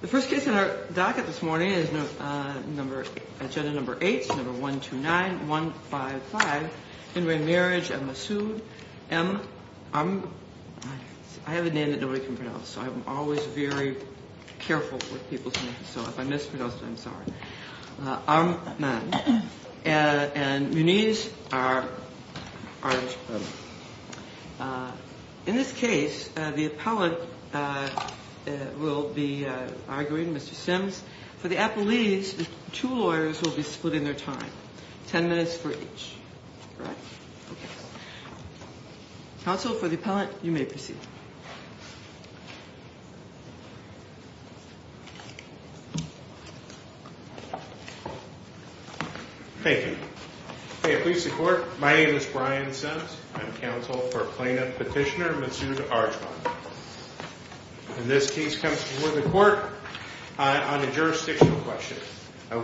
the first case in our docket this morning is number agenda number eight number one two nine one five five Henry Marriage and Massoud and I'm I have a name that nobody can pronounce so I'm always very careful with people's names so if I mispronounced I'm sorry. Arjmand and Muniz are in this case the the arguing Mr. Sims for the appellees the two lawyers will be split in their time ten minutes for each. Counsel for the appellant you may proceed. Thank you. Please support my name is Brian Sims I'm counsel for plaintiff petitioner Massoud Arjmand. This case comes before the court on a jurisdictional question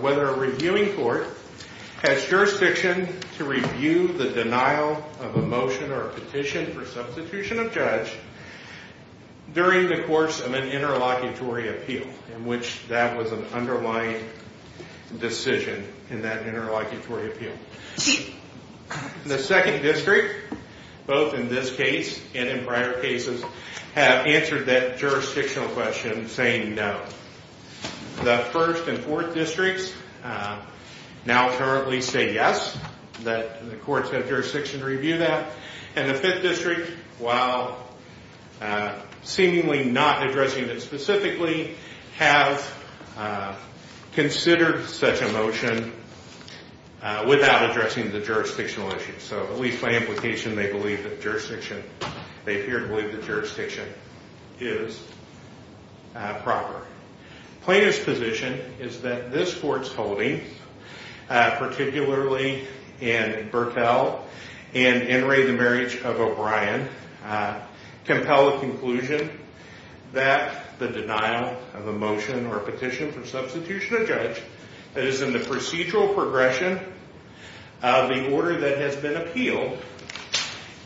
whether a reviewing court has jurisdiction to review the denial of a motion or a petition for substitution of judge during the course of an interlocutory appeal in which that was an underlying decision in that prior cases have answered that jurisdictional question saying no. The first and fourth districts now currently say yes that the courts have jurisdiction to review that and the fifth district while seemingly not addressing it specifically have considered such a motion without addressing the jurisdictional issue so at least by implication they believe the jurisdiction they appear to believe the jurisdiction is proper plaintiff's position is that this court's holding particularly in Burtell and Henry the marriage of O'Brien compel a conclusion that the denial of a motion or a petition for substitution of judge that is in the procedural progression of the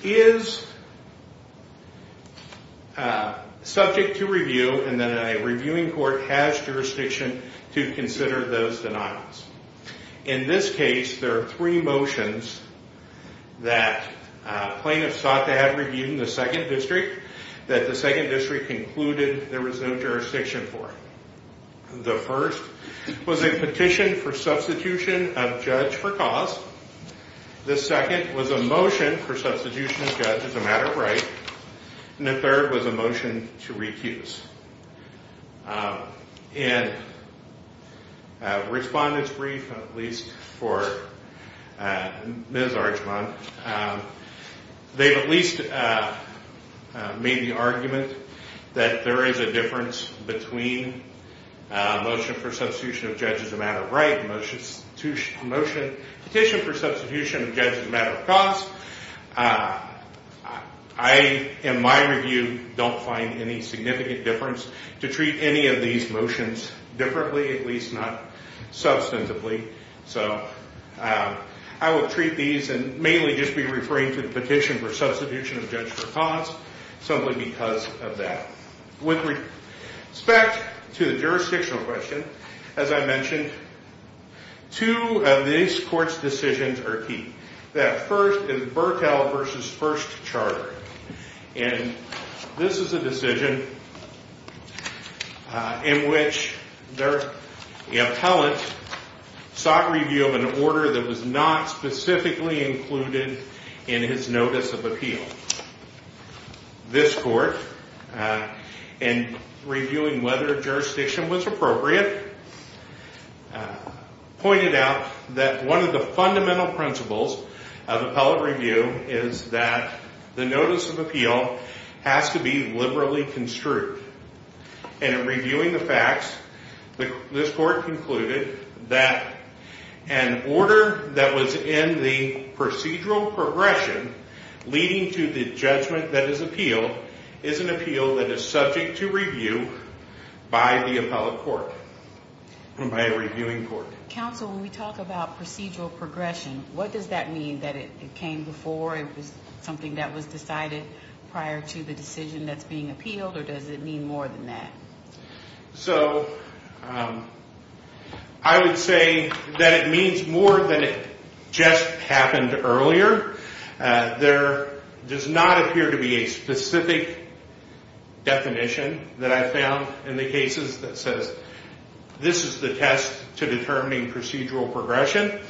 is subject to review and then a reviewing court has jurisdiction to consider those denials. In this case there are three motions that plaintiff sought to have reviewed in the second district that the second district concluded there was no jurisdiction for. The first was a petition for substitution of judge as a matter of right and the third was a motion to recuse and respondents brief at least for Ms. Archman they've at least made the argument that there is a difference between motion for substitution of judge as a matter of right motion to motion petition for substitution of judge for cause. I in my review don't find any significant difference to treat any of these motions differently at least not substantively so I will treat these and mainly just be referring to the petition for substitution of judge for cause simply because of that. With respect to the jurisdictional question as I said the first is Burttel versus First Charter and this is a decision in which the appellant sought review of an order that was not specifically included in his notice of appeal. This court in reviewing whether jurisdiction was appropriate pointed out that one of the fundamental principles of appellate review is that the notice of appeal has to be liberally construed and in reviewing the facts this court concluded that an order that was in the procedural progression leading to the judgment that is appealed is an appeal that is subject to review by the appellate court and by a reviewing court. Counsel when we talk about appeal does that mean that it came before it was something that was decided prior to the decision that's being appealed or does it mean more than that? So I would say that it means more than it just happened earlier. There does not appear to be a specific definition that I found in the cases that says this is the test to determining procedural progression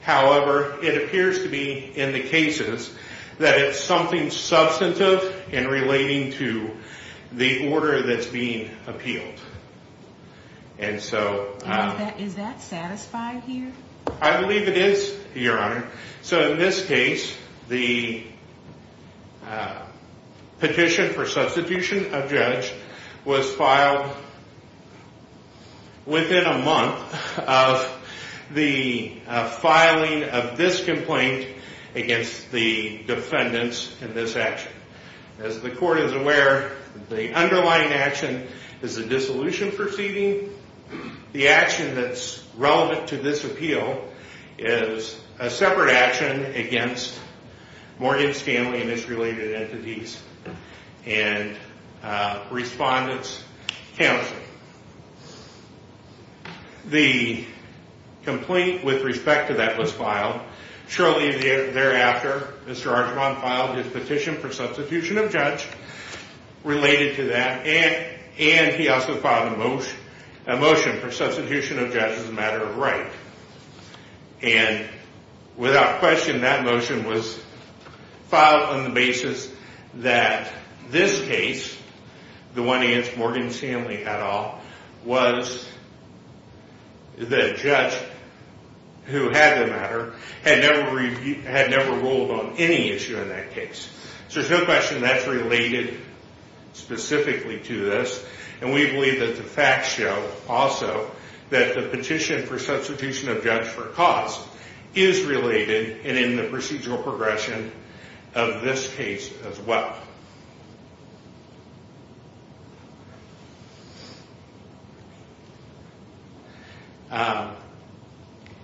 however it appears to be in the cases that it's something substantive in relating to the order that's being appealed. And so is that satisfied here? I believe it is your honor. So in this case the petition for substitution of judge was filed within a month of the filing of this complaint against the defendants in this action. As the court is aware the underlying action is a dissolution proceeding. The action that's relevant to this appeal is a separate action against Morgan Stanley and his related entities and respondents counsel. The complaint with respect to that was filed shortly thereafter Mr. Archibald filed his petition for substitution of judge related to that and he also filed a motion for substitution of judge as a matter of right. And without question that motion was filed on the basis that this case, the one against Morgan Stanley at all, was a matter of right. The judge who had the matter had never ruled on any issue in that case. So there's no question that's related specifically to this and we believe that the facts show also that the petition for substitution of judge for cause is related and in the procedural progression of this case as well.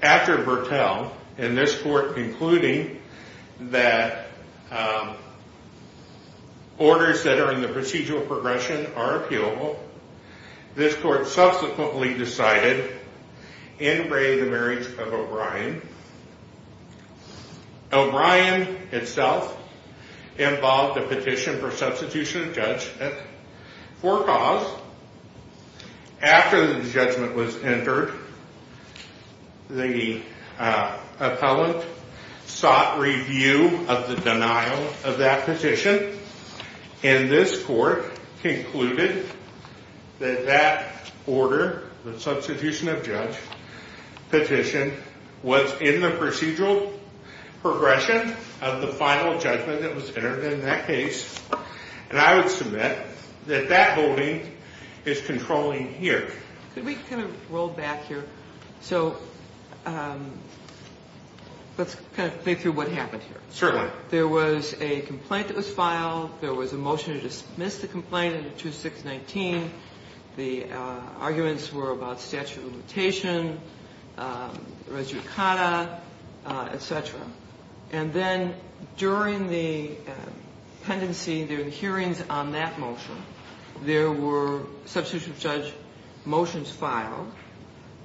After Bertel and this court concluding that orders that are in the procedural progression are appealable, this court subsequently decided in Ray the marriage of O'Brien. O'Brien itself involved a petition for substitution of judge for cause. After the judgment was entered the appellant sought review of the denial of that petition and this court concluded that that order, the substitution of judge petition was in the procedural progression of the final judgment that was entered in that case. And I would submit that that holding is controlling here. Could we kind of roll back here? So let's kind of think through what happened here. Certainly. There was a complaint that was filed. There was a motion to dismiss the complaint under 2619. The arguments were about statute of limitation, res judicata, etc. And then during the pendency, the hearings on that motion, there were substitution of judge motions filed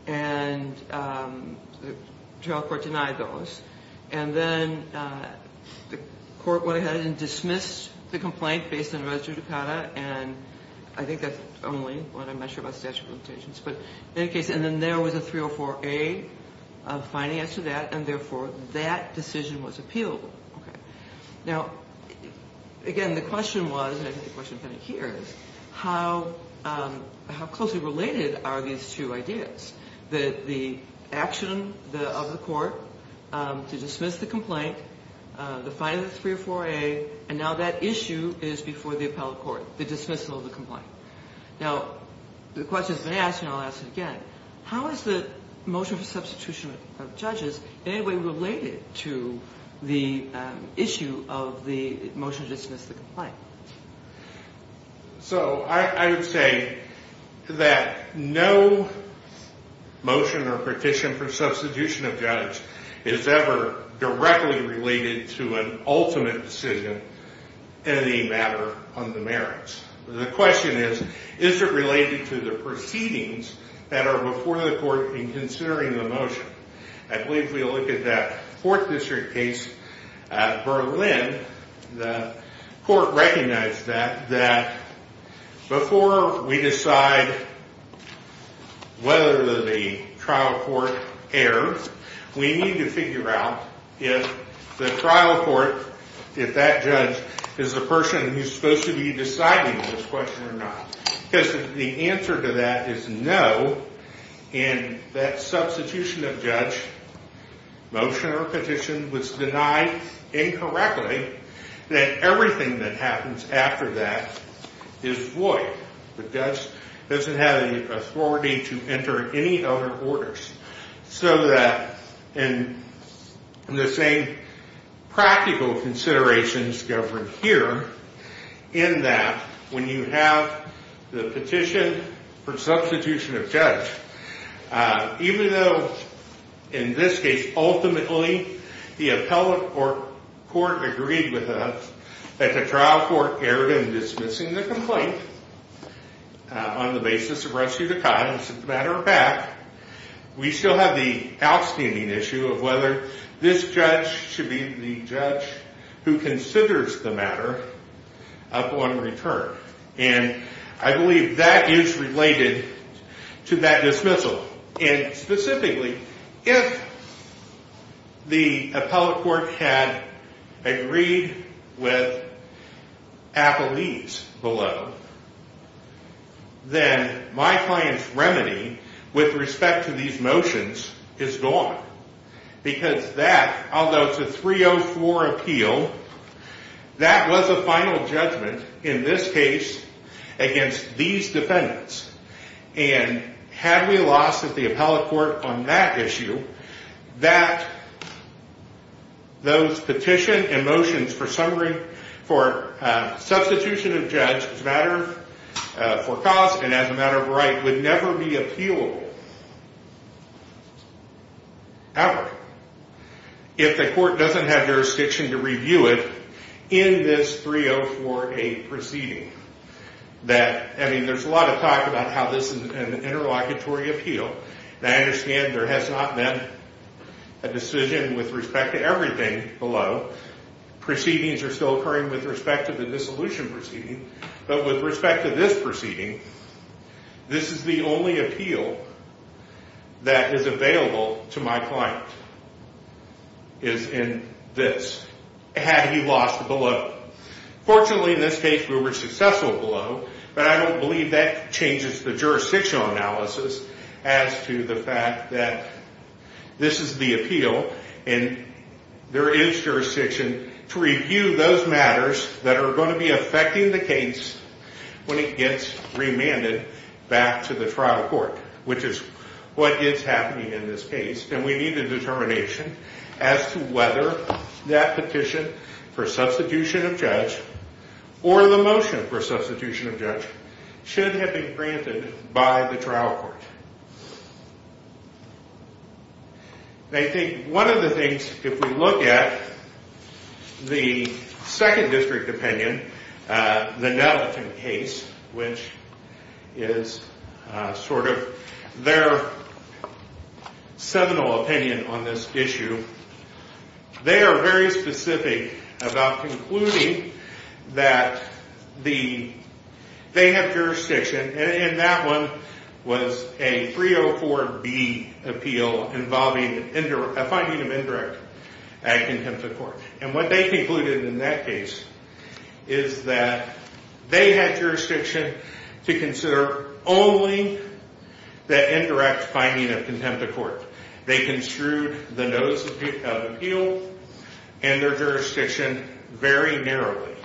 and the trial court denied those. And then the court went ahead and dismissed the complaint based on res judicata and I think that's only what I'm not sure about statute of limitations. But in any case, and then there was a 304A of finance to that and therefore that decision was appealable. Okay. Now, again, the question was, and I think the question is kind of here, is how closely related are these two ideas? The action of the court to dismiss the complaint, the final 304A, and now that issue is before the appellate court, the dismissal of the complaint. Now, the question has been asked and I'll ask it again. How is the motion for substitution of judges in any way related to the issue of the motion to dismiss the complaint? So I would say that no motion or petition for substitution of judge is ever directly related to an ultimate decision in any matter on the merits. The question is, is it related to the proceedings that are before the court in considering the motion? I believe if we look at that fourth district case, Berlin, the court recognized that before we decide whether the trial court error, we need to figure out if the trial court, if that judge is the person who's supposed to be deciding this question or not. Because the answer to that is no, and that substitution of judge, motion or petition, was denied incorrectly. Then everything that happens after that is void. The judge doesn't have any authority to enter any other orders. So that in the same practical considerations governed here, in that when you have the petition for substitution of judge, even though in this case, ultimately, the appellate court agreed with us that the trial court erred in dismissing the complaint on the basis of rescue of the cause, we still have the outstanding issue of whether this judge should be the judge who considers the matter upon return. And I believe that is related to that dismissal. And specifically, if the appellate court had agreed with Applebee's below, then my client's remedy with respect to these motions is gone. Because that, although it's a 304 appeal, that was a final judgment in this case against these defendants. And had we lost at the appellate court on that issue, that those petition and motions for substitution of judge as a matter for cause and as a matter of right would never be appealable. Ever. If the court doesn't have jurisdiction to review it in this 304A proceeding. I mean, there's a lot of talk about how this is an interlocutory appeal. And I understand there has not been a decision with respect to everything below. Proceedings are still occurring with respect to the dissolution proceeding. But with respect to this proceeding, this is the only appeal that is available to my client is in this. Had he lost below. Fortunately, in this case, we were successful below. But I don't believe that changes the jurisdictional analysis as to the fact that this is the appeal. And there is jurisdiction to review those matters that are going to be affecting the case when it gets remanded back to the trial court. Which is what is happening in this case. And we need a determination as to whether that petition for substitution of judge or the motion for substitution of judge should have been granted by the trial court. I think one of the things, if we look at the second district opinion, the Nelton case, which is sort of their seminal opinion on this issue. They are very specific about concluding that they have jurisdiction. And that one was a 304B appeal involving a finding of indirect act contempt of court. And what they concluded in that case is that they had jurisdiction to consider only the indirect finding of contempt of court. They construed the notice of appeal and their jurisdiction very narrowly.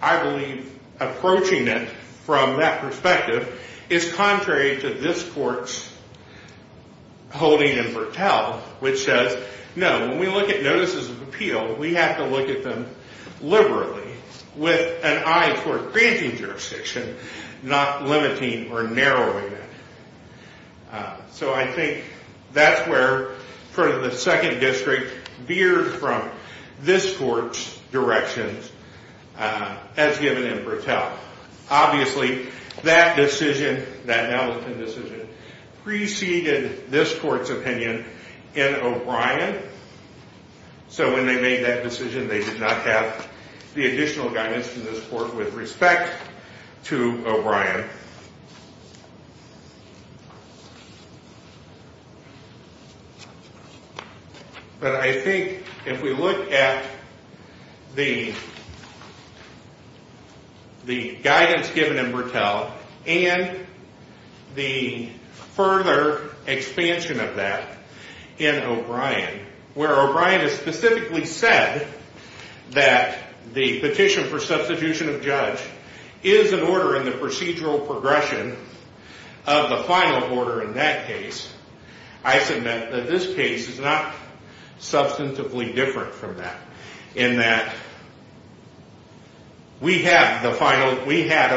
I believe approaching it from that perspective is contrary to this court's holding in Vertel. Which says, no, when we look at notices of appeal, we have to look at them liberally. With an eye toward granting jurisdiction, not limiting or narrowing it. So I think that's where the second district veered from this court's direction as given in Vertel. Obviously, that decision, that Nelton decision, preceded this court's opinion in O'Brien. So when they made that decision, they did not have the additional guidance from this court with respect to O'Brien. But I think if we look at the guidance given in Vertel and the further expansion of that in O'Brien. Where O'Brien has specifically said that the petition for substitution of judge is an order in the procedural progression of the final order in that case. I submit that this case is not substantively different from that. In that we had a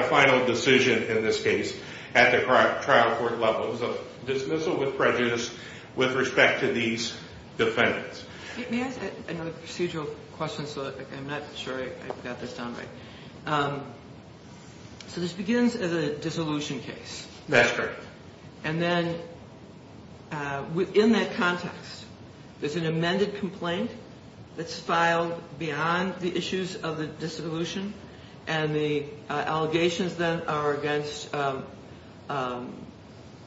final decision in this case at the trial court level. It was a dismissal with prejudice with respect to these defendants. May I ask another procedural question? I'm not sure I got this down right. So this begins as a dissolution case. That's correct. And then within that context, there's an amended complaint that's filed beyond the issues of the dissolution. And the allegations then are against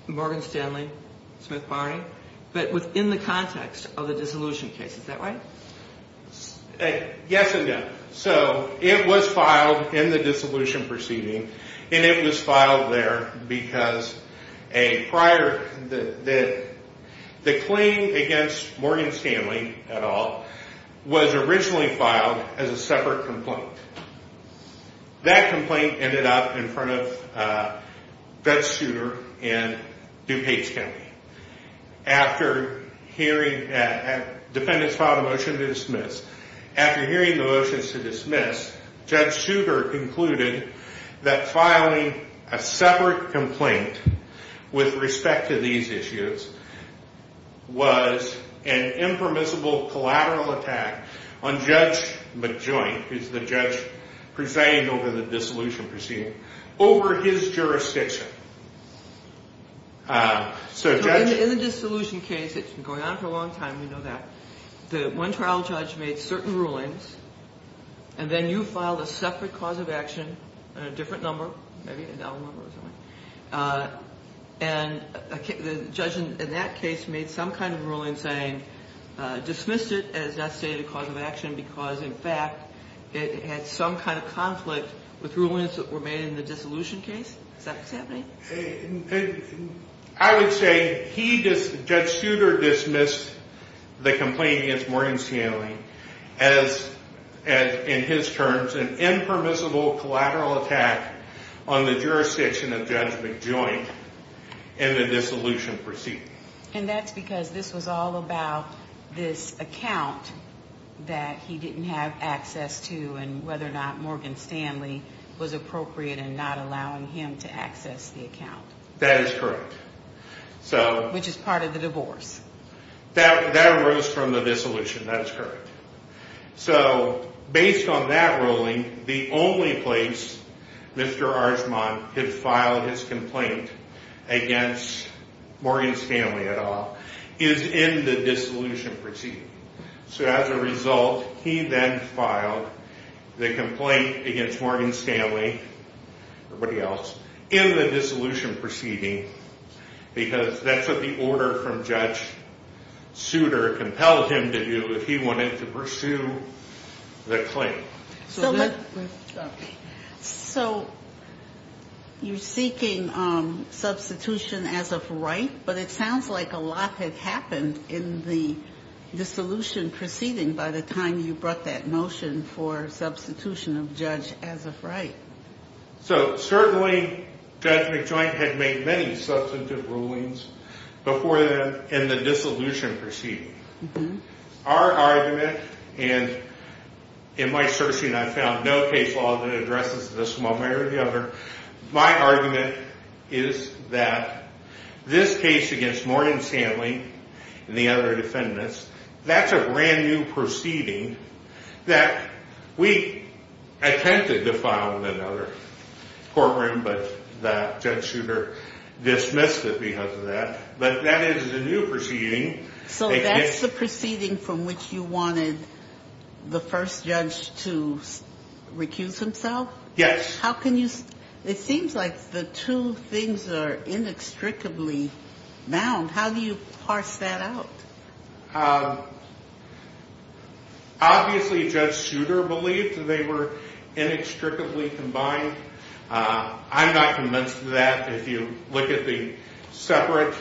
Morgan Stanley, Smith Barney. But within the context of the dissolution case, is that right? Yes and no. So it was filed in the dissolution proceeding. And it was filed there because the claim against Morgan Stanley et al. was originally filed as a separate complaint. That complaint ended up in front of Vets Souter in DuPage County. After hearing that defendants filed a motion to dismiss. After hearing the motions to dismiss, Judge Souter concluded that filing a separate complaint with respect to these issues was an impermissible collateral attack on Judge McJoint, who's the judge presiding over the dissolution proceeding, over his jurisdiction. Sir, Judge? In the dissolution case, it's been going on for a long time, we know that. The one trial judge made certain rulings. And then you filed a separate cause of action on a different number, maybe an L number or something. And the judge in that case made some kind of ruling saying, dismissed it as not stated cause of action. Because in fact, it had some kind of conflict with rulings that were made in the dissolution case. Is that what's happening? I would say Judge Souter dismissed the complaint against Morgan Stanley as, in his terms, an impermissible collateral attack on the jurisdiction of Judge McJoint in the dissolution proceeding. And that's because this was all about this account that he didn't have access to and whether or not Morgan Stanley was appropriate in not allowing him to access the account. That is correct. Which is part of the divorce. That arose from the dissolution, that is correct. So, based on that ruling, the only place Mr. Archmont had filed his complaint against Morgan Stanley at all is in the dissolution proceeding. So as a result, he then filed the complaint against Morgan Stanley, everybody else, in the dissolution proceeding. Because that's what the order from Judge Souter compelled him to do if he wanted to pursue the claim. So, you're seeking substitution as of right? But it sounds like a lot had happened in the dissolution proceeding by the time you brought that motion for substitution of Judge as of right. So, certainly, Judge McJoint had made many substantive rulings before then in the dissolution proceeding. Our argument, and in my searching I found no case law that addresses this one way or the other. My argument is that this case against Morgan Stanley and the other defendants, that's a brand new proceeding that we attempted to file in another courtroom, but Judge Souter dismissed it because of that. But that is a new proceeding. So that's the proceeding from which you wanted the first judge to recuse himself? Yes. It seems like the two things are inextricably bound. How do you parse that out? Obviously, Judge Souter believed that they were inextricably combined. I'm not convinced of that. If you look at the separate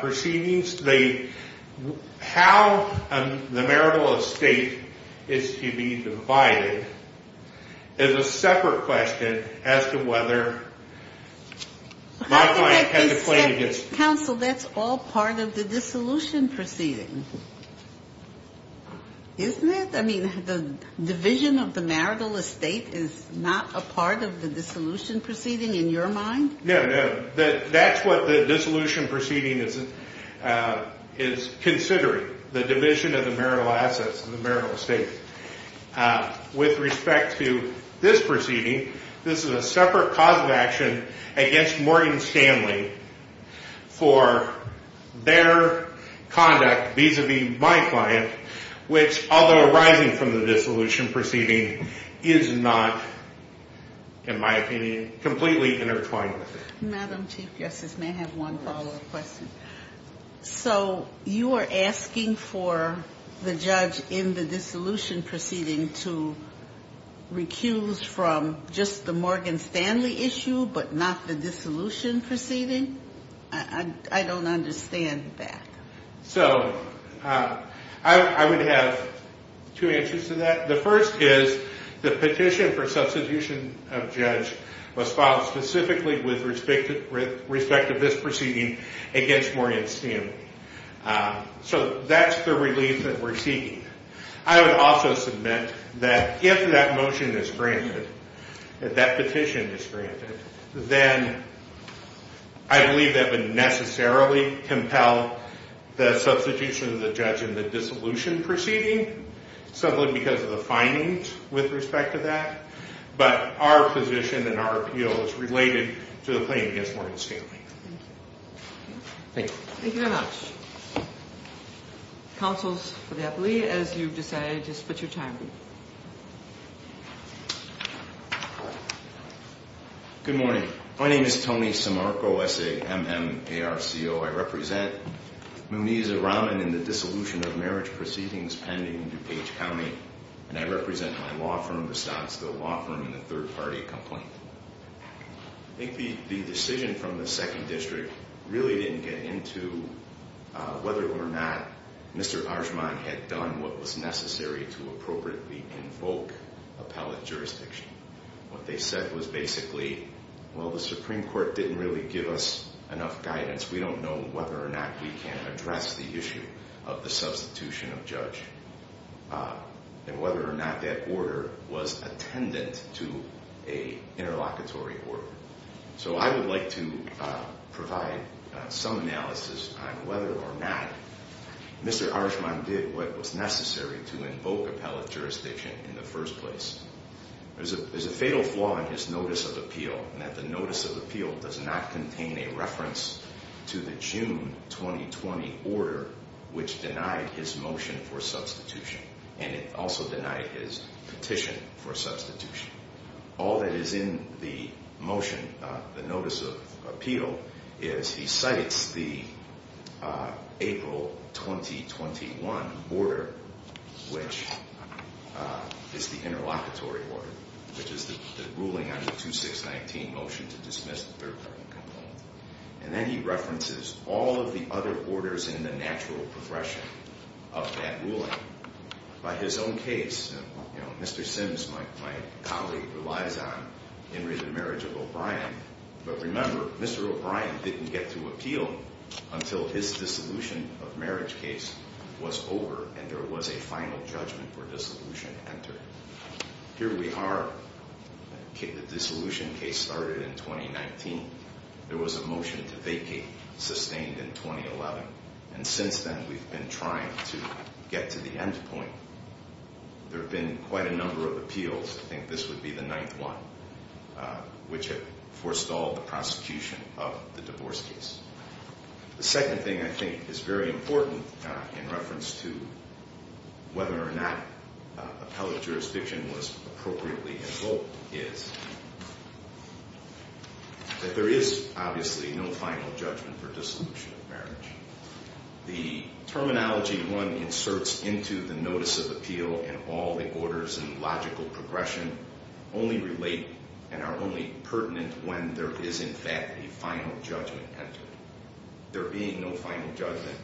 proceedings, how the marital estate is to be divided is a separate question as to whether my client had to play against... Counsel, that's all part of the dissolution proceeding, isn't it? I mean, the division of the marital estate is not a part of the dissolution proceeding in your mind? No, no. That's what the dissolution proceeding is considering, the division of the marital assets and the marital estate. With respect to this proceeding, this is a separate cause of action against Morgan Stanley for their conduct vis-a-vis my client, which, although arising from the dissolution proceeding, is not, in my opinion, completely intertwined with it. Madam Chief Justice, may I have one follow-up question? Yes. So you are asking for the judge in the dissolution proceeding to recuse from just the Morgan Stanley issue but not the dissolution proceeding? I don't understand that. So I would have two answers to that. The first is the petition for substitution of judge was filed specifically with respect to this proceeding against Morgan Stanley. So that's the relief that we're seeking. I would also submit that if that motion is granted, if that petition is granted, then I believe that would necessarily compel the substitution of the judge in the dissolution proceeding simply because of the findings with respect to that. But our position and our appeal is related to the claim against Morgan Stanley. Thank you. Thank you. Thank you very much. Counsel for the appellee, as you've decided, just split your time. Good morning. My name is Tony Simarco, S-A-M-M-A-R-C-O. I represent Muneeza Rahman in the dissolution of marriage proceedings pending in DuPage County. And I represent my law firm, the Sandstill Law Firm, in the third-party complaint. I think the decision from the second district really didn't get into whether or not Mr. Harshman had done what was necessary to appropriately invoke appellate jurisdiction. What they said was basically, well, the Supreme Court didn't really give us enough guidance. We don't know whether or not we can address the issue of the substitution of judge. And whether or not that order was attendant to an interlocutory order. So I would like to provide some analysis on whether or not Mr. Harshman did what was necessary to invoke appellate jurisdiction in the first place. There's a fatal flaw in his notice of appeal, in that the notice of appeal does not contain a reference to the June 2020 order, which denied his motion for substitution. And it also denied his petition for substitution. All that is in the motion, the notice of appeal, is he cites the April 2021 order, which is the interlocutory order. Which is the ruling on the 2619 motion to dismiss the third-party complaint. And then he references all of the other orders in the natural progression of that ruling. By his own case, Mr. Sims, my colleague, relies on Henry the marriage of O'Brien. But remember, Mr. O'Brien didn't get to appeal until his dissolution of marriage case was over and there was a final judgment for dissolution entered. Here we are. The dissolution case started in 2019. There was a motion to vacate sustained in 2011. And since then, we've been trying to get to the end point. There have been quite a number of appeals. I think this would be the ninth one, which had forestalled the prosecution of the divorce case. The second thing I think is very important in reference to whether or not appellate jurisdiction was appropriately involved is that there is obviously no final judgment for dissolution of marriage. The terminology one inserts into the notice of appeal and all the orders and logical progression only relate and are only pertinent when there is in fact a final judgment entered. There being no final judgment,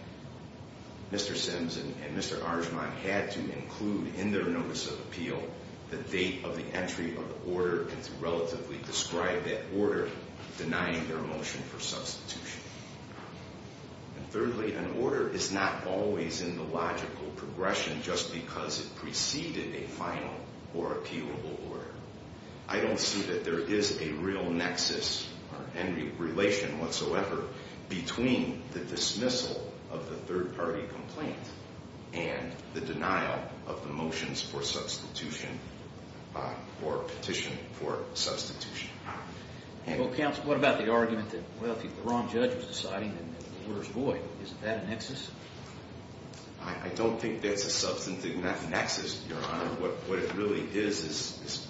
Mr. Sims and Mr. Argemont had to include in their notice of appeal the date of the entry of the order and to relatively describe that order denying their motion for substitution. Thirdly, an order is not always in the logical progression just because it preceded a final or appealable order. I don't see that there is a real nexus or any relation whatsoever between the dismissal of the third party complaint and the denial of the motions for substitution or petition for substitution. Counsel, what about the argument that if the wrong judge was deciding, then the order is void? Is that a nexus? I don't think that's a substantive nexus, Your Honor. What it really is is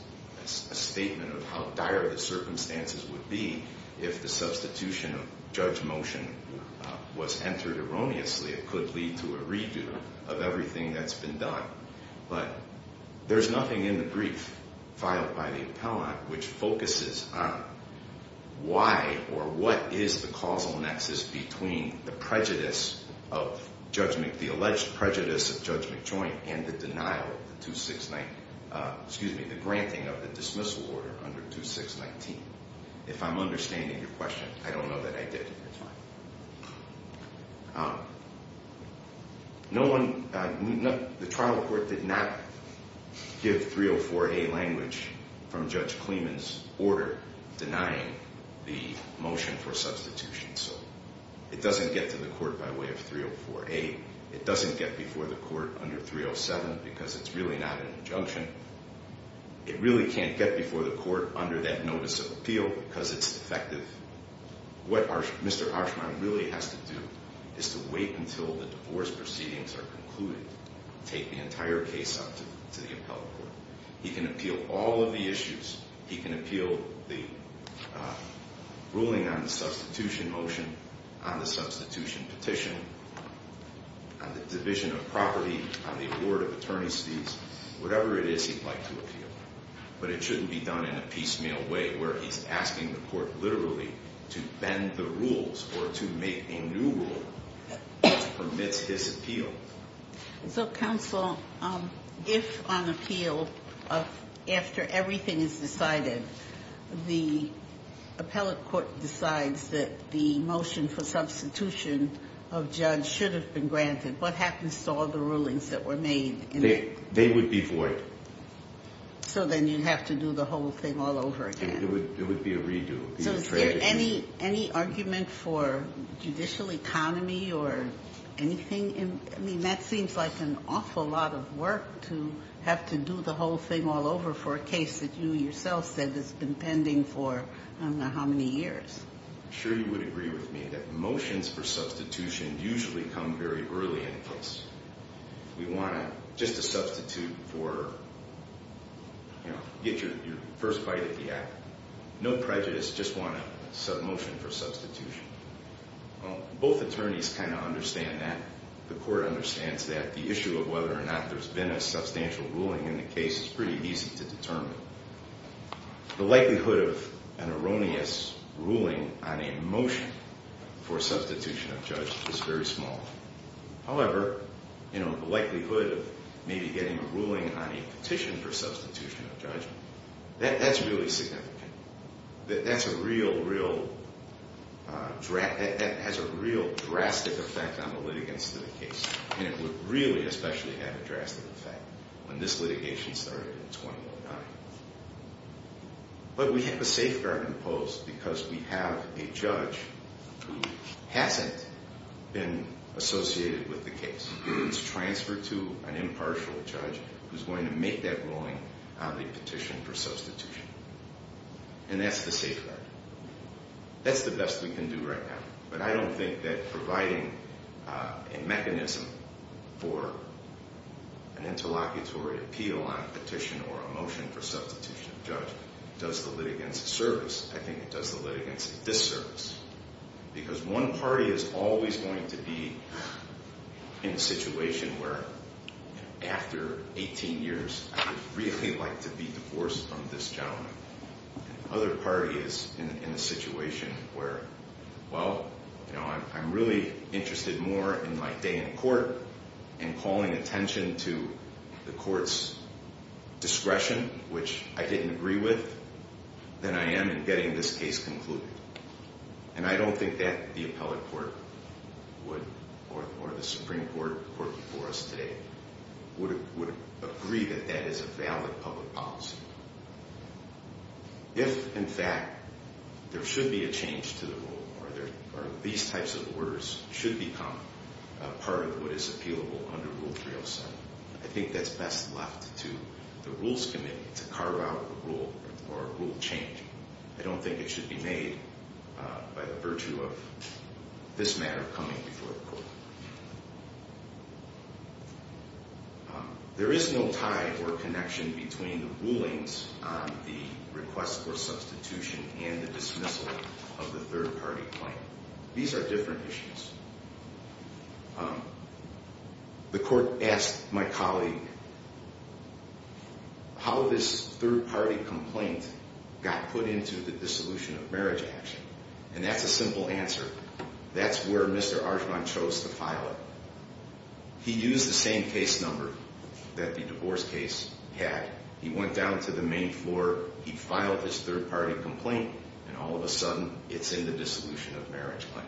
a statement of how dire the circumstances would be if the substitution of judge motion was entered erroneously. It could lead to a redo of everything that's been done. But there's nothing in the brief filed by the appellant which focuses on why or what is the causal nexus between the alleged prejudice of Judge McJoint and the granting of the dismissal order under 2619. If I'm understanding your question, I don't know that I did. The trial court did not give 304A language from Judge Kleeman's order denying the motion for substitution. It doesn't get to the court by way of 304A. It doesn't get before the court under 307 because it's really not an injunction. It really can't get before the court under that notice of appeal because it's defective. What Mr. Archman really has to do is to wait until the divorce proceedings are concluded, take the entire case up to the appellant court. He can appeal all of the issues. He can appeal the ruling on the substitution motion, on the substitution petition, on the division of property, on the award of attorney's fees, whatever it is he'd like to appeal. But it shouldn't be done in a piecemeal way where he's asking the court literally to bend the rules or to make a new rule that permits his appeal. So, counsel, if on appeal, after everything is decided, the appellant court decides that the motion for substitution of Judge should have been granted, what happens to all the rulings that were made? They would be void. So then you'd have to do the whole thing all over again. It would be a redo. So is there any argument for judicial economy or anything? I mean, that seems like an awful lot of work to have to do the whole thing all over for a case that you yourself said has been pending for I don't know how many years. I'm sure you would agree with me that motions for substitution usually come very early in a case. We want just a substitute for, you know, get your first bite of the apple. No prejudice, just want a motion for substitution. Both attorneys kind of understand that. The court understands that. The issue of whether or not there's been a substantial ruling in the case is pretty easy to determine. The likelihood of an erroneous ruling on a motion for substitution of Judge is very small. However, you know, the likelihood of maybe getting a ruling on a petition for substitution of Judge, that's really significant. That's a real, real, that has a real drastic effect on the litigants of the case. And it would really especially have a drastic effect when this litigation started in 2009. But we have a safeguard imposed because we have a judge who hasn't been associated with the case. It's transferred to an impartial judge who's going to make that ruling on the petition for substitution. And that's the safeguard. That's the best we can do right now. But I don't think that providing a mechanism for an interlocutory appeal on a petition or a motion for substitution of Judge does the litigants a service. I think it does the litigants a disservice. Because one party is always going to be in a situation where after 18 years, I would really like to be divorced from this gentleman. Other party is in a situation where, well, you know, I'm really interested more in my day in court and calling attention to the court's discretion, which I didn't agree with, than I am in getting this case concluded. And I don't think that the appellate court would, or the Supreme Court working for us today, would agree that that is a valid public policy. If, in fact, there should be a change to the rule or these types of orders should become a part of what is appealable under Rule 307, I think that's best left to the Rules Committee to carve out a rule or a rule change. I don't think it should be made by the virtue of this matter coming before the court. There is no tie or connection between the rulings on the request for substitution and the dismissal of the third-party claim. These are different issues. The court asked my colleague how this third-party complaint got put into the dissolution of marriage action. And that's a simple answer. That's where Mr. Archibald chose to file it. He used the same case number that the divorce case had. He went down to the main floor, he filed his third-party complaint, and all of a sudden it's in the dissolution of marriage line.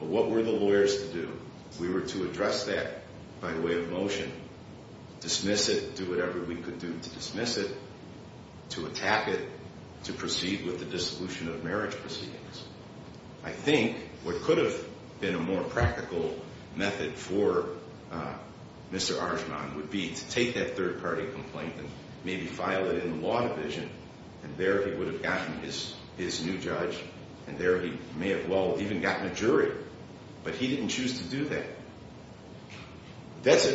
But what were the lawyers to do? We were to address that by way of motion, dismiss it, do whatever we could do to dismiss it, to attack it, to proceed with the dissolution of marriage proceedings. I think what could have been a more practical method for Mr. Archibald would be to take that third-party complaint and maybe file it in the law division, and there he would have gotten his new judge, and there he may have well even gotten a jury. But he didn't choose to do that. That's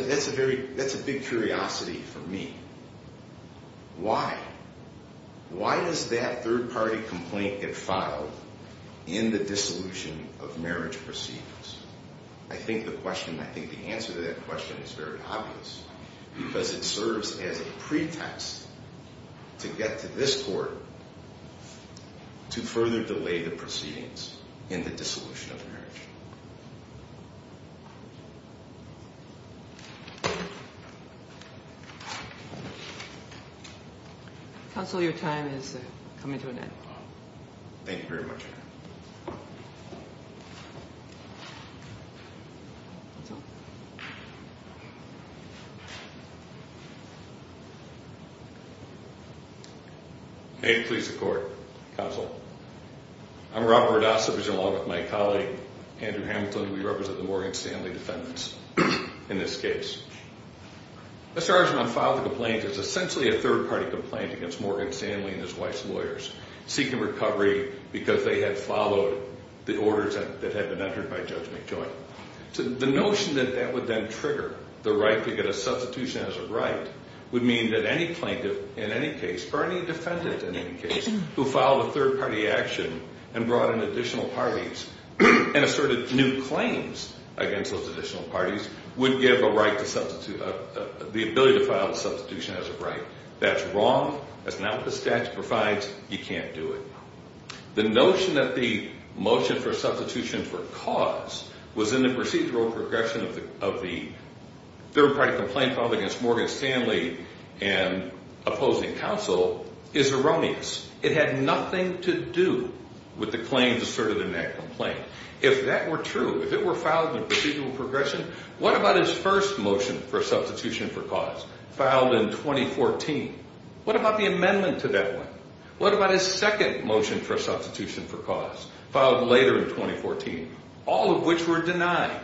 a big curiosity for me. Why? Why does that third-party complaint get filed in the dissolution of marriage proceedings? I think the question, I think the answer to that question is very obvious, because it serves as a pretext to get to this court to further delay the proceedings in the dissolution of marriage. Counsel, your time is coming to an end. Thank you very much. May it please the Court, Counsel. I'm Robert Rodasa, and along with my colleague, Andrew Hamilton, we represent the Morgan Stanley defendants in this case. Mr. Archibald filed the complaint. It's essentially a third-party complaint against Morgan Stanley and his wife's lawyers, seeking recovery because they had followed the orders that had been entered by Judge McJoint. The notion that that would then trigger the right to get a substitution as a right would mean that any plaintiff in any case, or any defendant in any case, who filed a third-party action and brought in additional parties and asserted new claims against those additional parties would give the ability to file a substitution as a right. That's wrong. That's not what the statute provides. You can't do it. The notion that the motion for substitution for cause was in the procedural progression of the third-party complaint filed against Morgan Stanley and opposing counsel is erroneous. It had nothing to do with the claims asserted in that complaint. If that were true, if it were filed in procedural progression, what about his first motion for substitution for cause, filed in 2014? What about the amendment to that one? What about his second motion for substitution for cause, filed later in 2014, all of which were denied?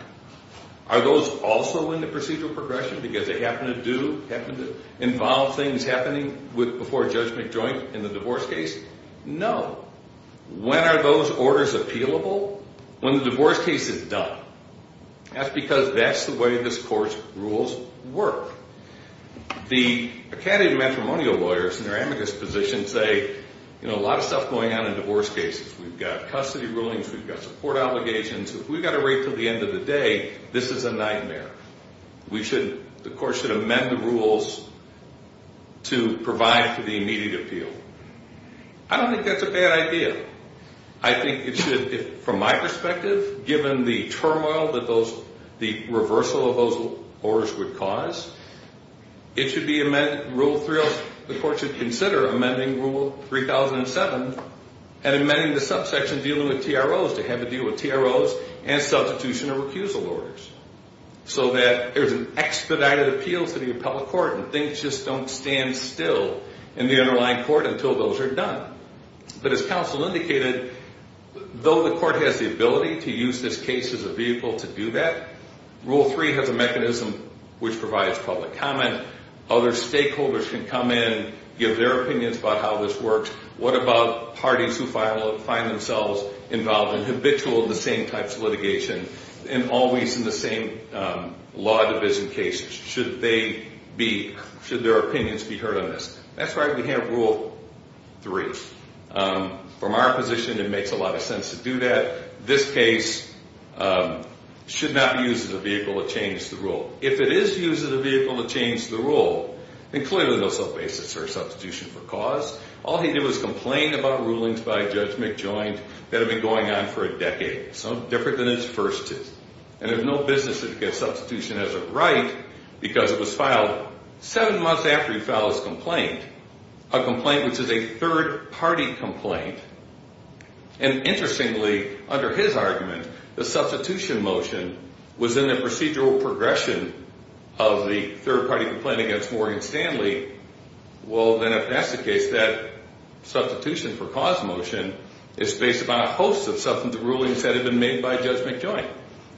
Are those also in the procedural progression because they happen to do, happen to involve things happening before Judge McJoint in the divorce case? No. When are those orders appealable? When the divorce case is done. That's because that's the way this Court's rules work. The academy matrimonial lawyers in their amicus position say, you know, a lot of stuff going on in divorce cases. We've got custody rulings. We've got support allegations. If we've got to wait until the end of the day, this is a nightmare. We shouldn't. The Court should amend the rules to provide for the immediate appeal. I don't think that's a bad idea. I think it should, from my perspective, given the turmoil that those, the reversal of those orders would cause, it should be amended. Rule 3, the Court should consider amending Rule 3007 and amending the subsection dealing with TROs to have a deal with TROs and substitution of recusal orders. So that there's an expedited appeal to the appellate court and things just don't stand still in the underlying court until those are done. But as counsel indicated, though the Court has the ability to use this case as a vehicle to do that, Rule 3 has a mechanism which provides public comment. Other stakeholders can come in, give their opinions about how this works. What about parties who find themselves involved and habitual in the same types of litigation and always in the same law division cases? Should they be, should their opinions be heard on this? That's why we have Rule 3. From our position, it makes a lot of sense to do that. This case should not be used as a vehicle to change the rule. If it is used as a vehicle to change the rule, then clearly there's no basis for a substitution for cause. All he did was complain about rulings by Judge McJoint that have been going on for a decade. So different than his first two. And it's no business to get substitution as a right because it was filed seven months after he filed his complaint, a complaint which is a third-party complaint. And interestingly, under his argument, the substitution motion was in the procedural progression of the third-party complaint against Morgan Stanley. Well, then if that's the case, that substitution for cause motion is based upon a host of substantive rulings that have been made by Judge McJoint.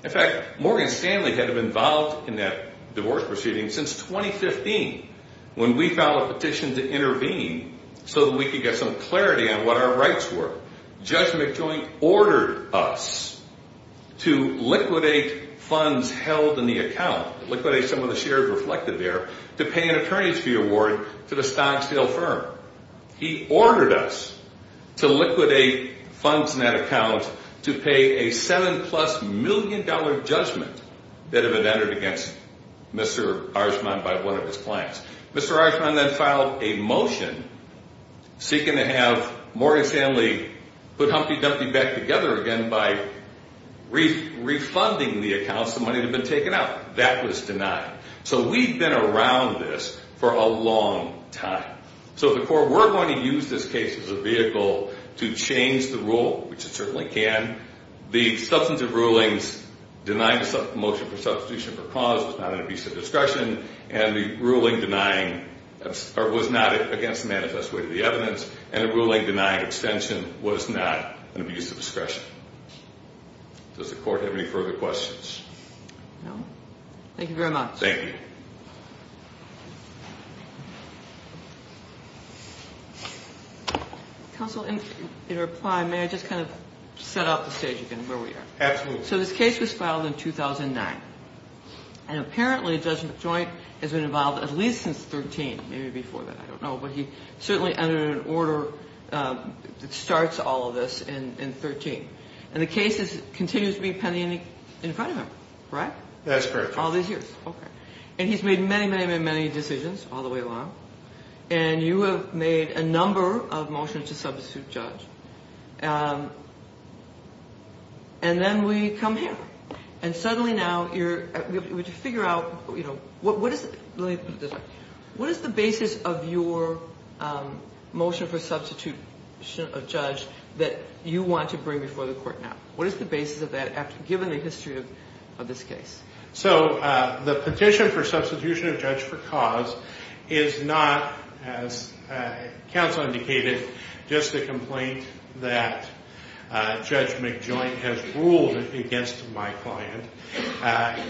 In fact, Morgan Stanley had been involved in that divorce proceeding since 2015 when we filed a petition to intervene so that we could get some clarity on what our rights were. Judge McJoint ordered us to liquidate funds held in the account, liquidate some of the shares reflected there, to pay an attorney's fee award to the Stocksdale firm. He ordered us to liquidate funds in that account to pay a seven-plus-million-dollar judgment that had been entered against Mr. Archman by one of his clients. Mr. Archman then filed a motion seeking to have Morgan Stanley put Humpty Dumpty back together again by refunding the accounts, the money that had been taken out. That was denied. So we've been around this for a long time. So the court were going to use this case as a vehicle to change the rule, which it certainly can. The substantive rulings denying the motion for substitution for cause was not an abuse of discretion, and the ruling denying was not against the manifest weight of the evidence, and the ruling denying extension was not an abuse of discretion. Does the court have any further questions? No. Thank you very much. Thank you. Counsel, in reply, may I just kind of set up the stage again where we are? Absolutely. So this case was filed in 2009, and apparently Judge McJoint has been involved at least since 13, maybe before that. I don't know. But he certainly entered an order that starts all of this in 13, and the case continues to be pending in front of him, right? That's correct. All these years. Okay. And he's made many, many, many, many decisions all the way along, and you have made a number of motions to substitute judge. And then we come here, and suddenly now we have to figure out what is the basis of your motion for substitution of judge that you want to bring before the court now? What is the basis of that, given the history of this case? So the petition for substitution of judge for cause is not, as counsel indicated, just a complaint that Judge McJoint has ruled against my client.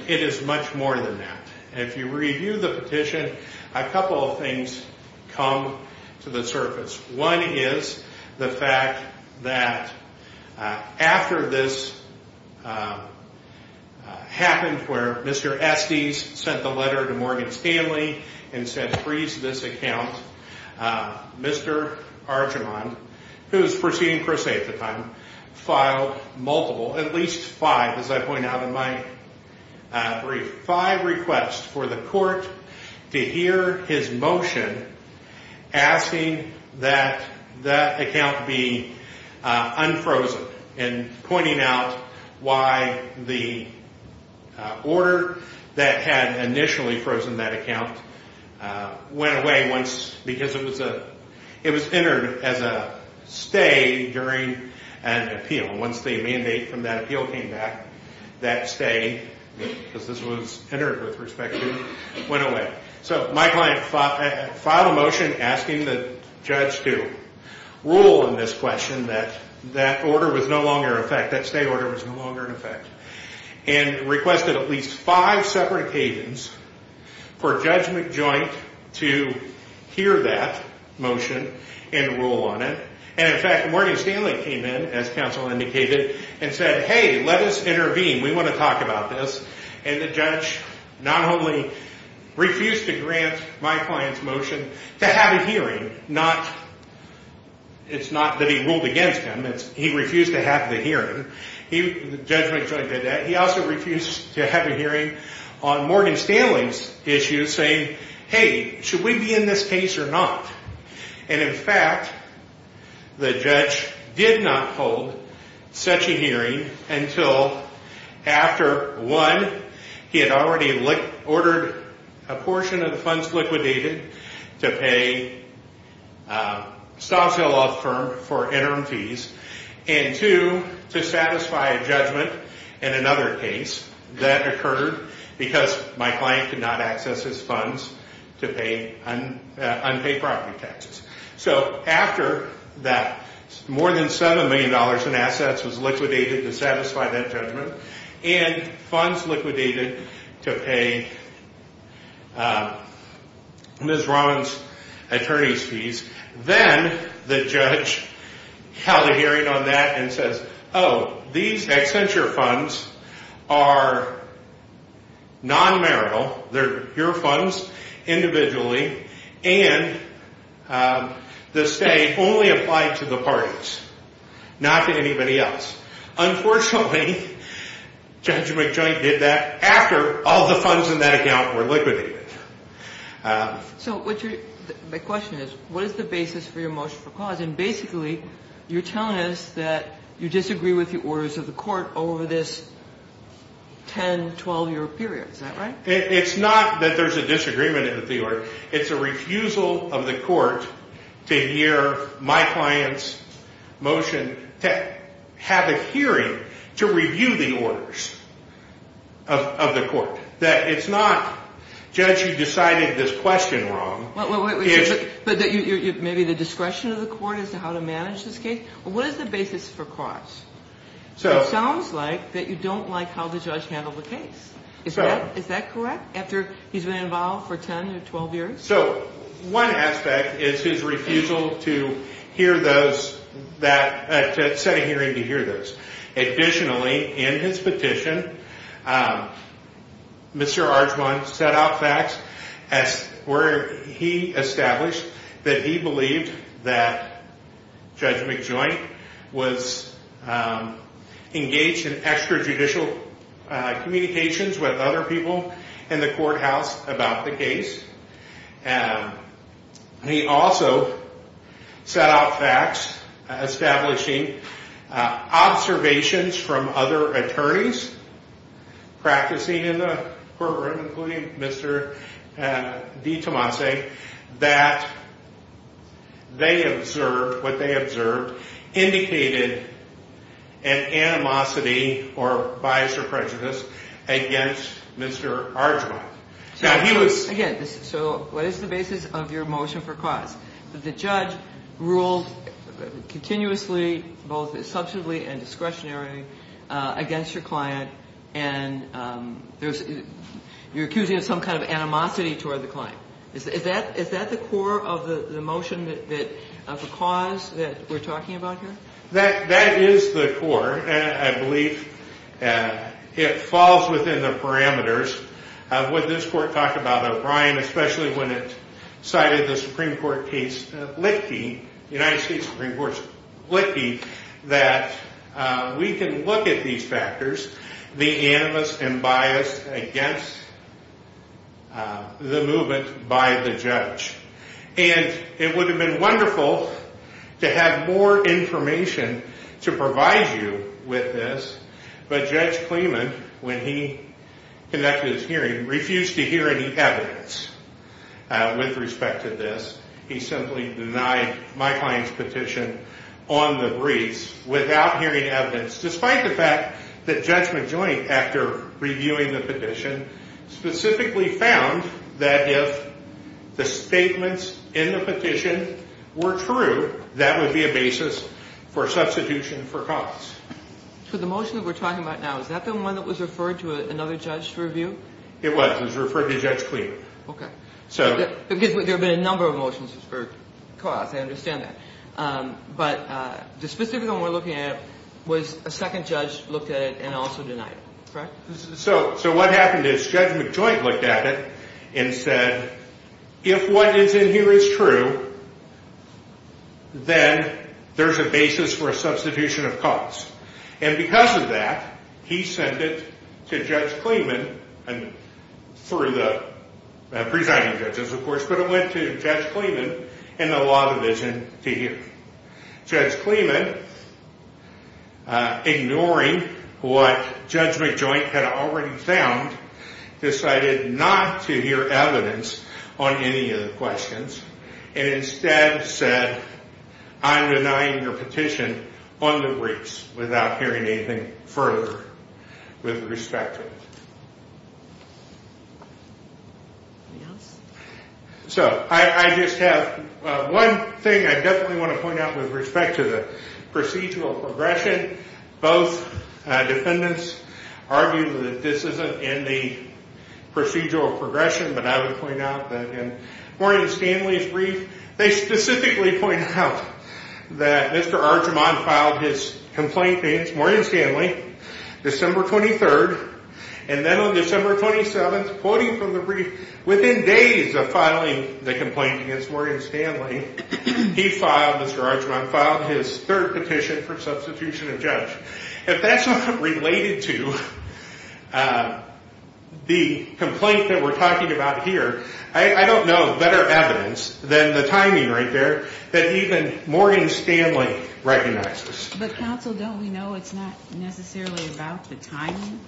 It is much more than that. And if you review the petition, a couple of things come to the surface. One is the fact that after this happened where Mr. Estes sent the letter to Morgan Stanley and said freeze this account, Mr. Argimon, who was proceeding per se at the time, filed multiple, at least five, as I point out in my brief, five requests for the court to hear his motion asking that that account be unfrozen, and pointing out why the order that had initially frozen that account went away once, because it was entered as a stay during an appeal. Once the mandate from that appeal came back, that stay, because this was entered with respect to, went away. So my client filed a motion asking the judge to rule in this question that that order was no longer in effect, that stay order was no longer in effect, and requested at least five separate occasions for Judge McJoint to hear that motion and rule on it. And in fact, Morgan Stanley came in, as counsel indicated, and said hey, let us intervene. We want to talk about this. And the judge not only refused to grant my client's motion to have a hearing, it's not that he ruled against him. He refused to have the hearing. Judge McJoint did that. He also refused to have a hearing on Morgan Stanley's issue saying hey, should we be in this case or not? And in fact, the judge did not hold such a hearing until after, one, he had already ordered a portion of the funds liquidated to pay a stock sale law firm for interim fees, and two, to satisfy a judgment in another case that occurred because my client could not access his funds to pay unpaid property taxes. So after that, more than $7 million in assets was liquidated to satisfy that judgment, and funds liquidated to pay Ms. Rollins' attorney's fees, then the judge held a hearing on that and says oh, these Accenture funds are non-marital. They're your funds individually, and the state only applied to the parties, not to anybody else. Unfortunately, Judge McJoint did that after all the funds in that account were liquidated. So my question is what is the basis for your motion for cause? And basically, you're telling us that you disagree with the orders of the court over this 10-, 12-year period. Is that right? It's not that there's a disagreement with the order. It's a refusal of the court to hear my client's motion to have a hearing to review the orders of the court. It's not, Judge, you decided this question wrong. But maybe the discretion of the court as to how to manage this case? What is the basis for cause? It sounds like that you don't like how the judge handled the case. Is that correct, after he's been involved for 10 or 12 years? So one aspect is his refusal to hear those, to set a hearing to hear those. Additionally, in his petition, Mr. Archman set out facts where he established that he believed that Judge McJoint was engaged in extrajudicial communications with other people in the courthouse about the case. He also set out facts establishing observations from other attorneys practicing in the courtroom, including Mr. DiTomase, that they observed, what they observed, indicated an animosity or bias or prejudice against Mr. Archman. Again, so what is the basis of your motion for cause? The judge ruled continuously, both substantively and discretionarily, against your client, and you're accusing of some kind of animosity toward the client. Is that the core of the motion for cause that we're talking about here? That is the core. I believe it falls within the parameters. When this court talked about O'Brien, especially when it cited the Supreme Court case Licktee, United States Supreme Court's Licktee, that we can look at these factors, the animosity and bias against the movement by the judge. And it would have been wonderful to have more information to provide you with this, but Judge Kleeman, when he conducted his hearing, refused to hear any evidence with respect to this. He simply denied my client's petition on the briefs without hearing evidence, despite the fact that Judge McJoint, after reviewing the petition, specifically found that if the statements in the petition were true, that would be a basis for substitution for cause. So the motion that we're talking about now, is that the one that was referred to another judge to review? It was. It was referred to Judge Kleeman. Okay. Because there have been a number of motions for cause. I understand that. But the specific one we're looking at was a second judge looked at it and also denied it, correct? So what happened is Judge McJoint looked at it and said, if what is in here is true, then there's a basis for a substitution of cause. And because of that, he sent it to Judge Kleeman through the presiding judges, of course, but it went to Judge Kleeman and the law division to hear. Judge Kleeman, ignoring what Judge McJoint had already found, decided not to hear evidence on any of the questions and instead said, I'm denying your petition on the briefs without hearing anything further with respect to it. Anything else? So I just have one thing I definitely want to point out with respect to the procedural progression. Both defendants argued that this isn't in the procedural progression, but I would point out that in Maureen Stanley's brief, they specifically point out that Mr. Archimon filed his complaint against Maureen Stanley December 23rd, and then on December 27th, quoting from the brief, within days of filing the complaint against Maureen Stanley, he filed, Mr. Archimon filed his third petition for substitution of judge. If that's not related to the complaint that we're talking about here, I don't know better evidence than the timing right there that even Maureen Stanley recognizes. But counsel, don't we know it's not necessarily about the timing?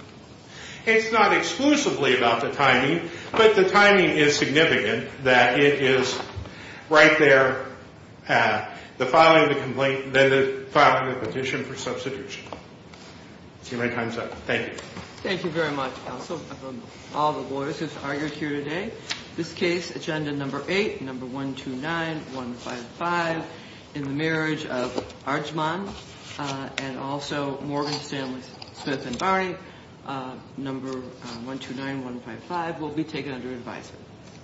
It's not exclusively about the timing, but the timing is significant that it is right there, the filing of the petition for substitution. See if my time's up. Thank you. Thank you very much, counsel, all the lawyers who've argued here today. This case, agenda number eight, number 129155, in the marriage of Archimon and also Maureen Stanley Smith and Barney, number 129155, will be taken under advisement.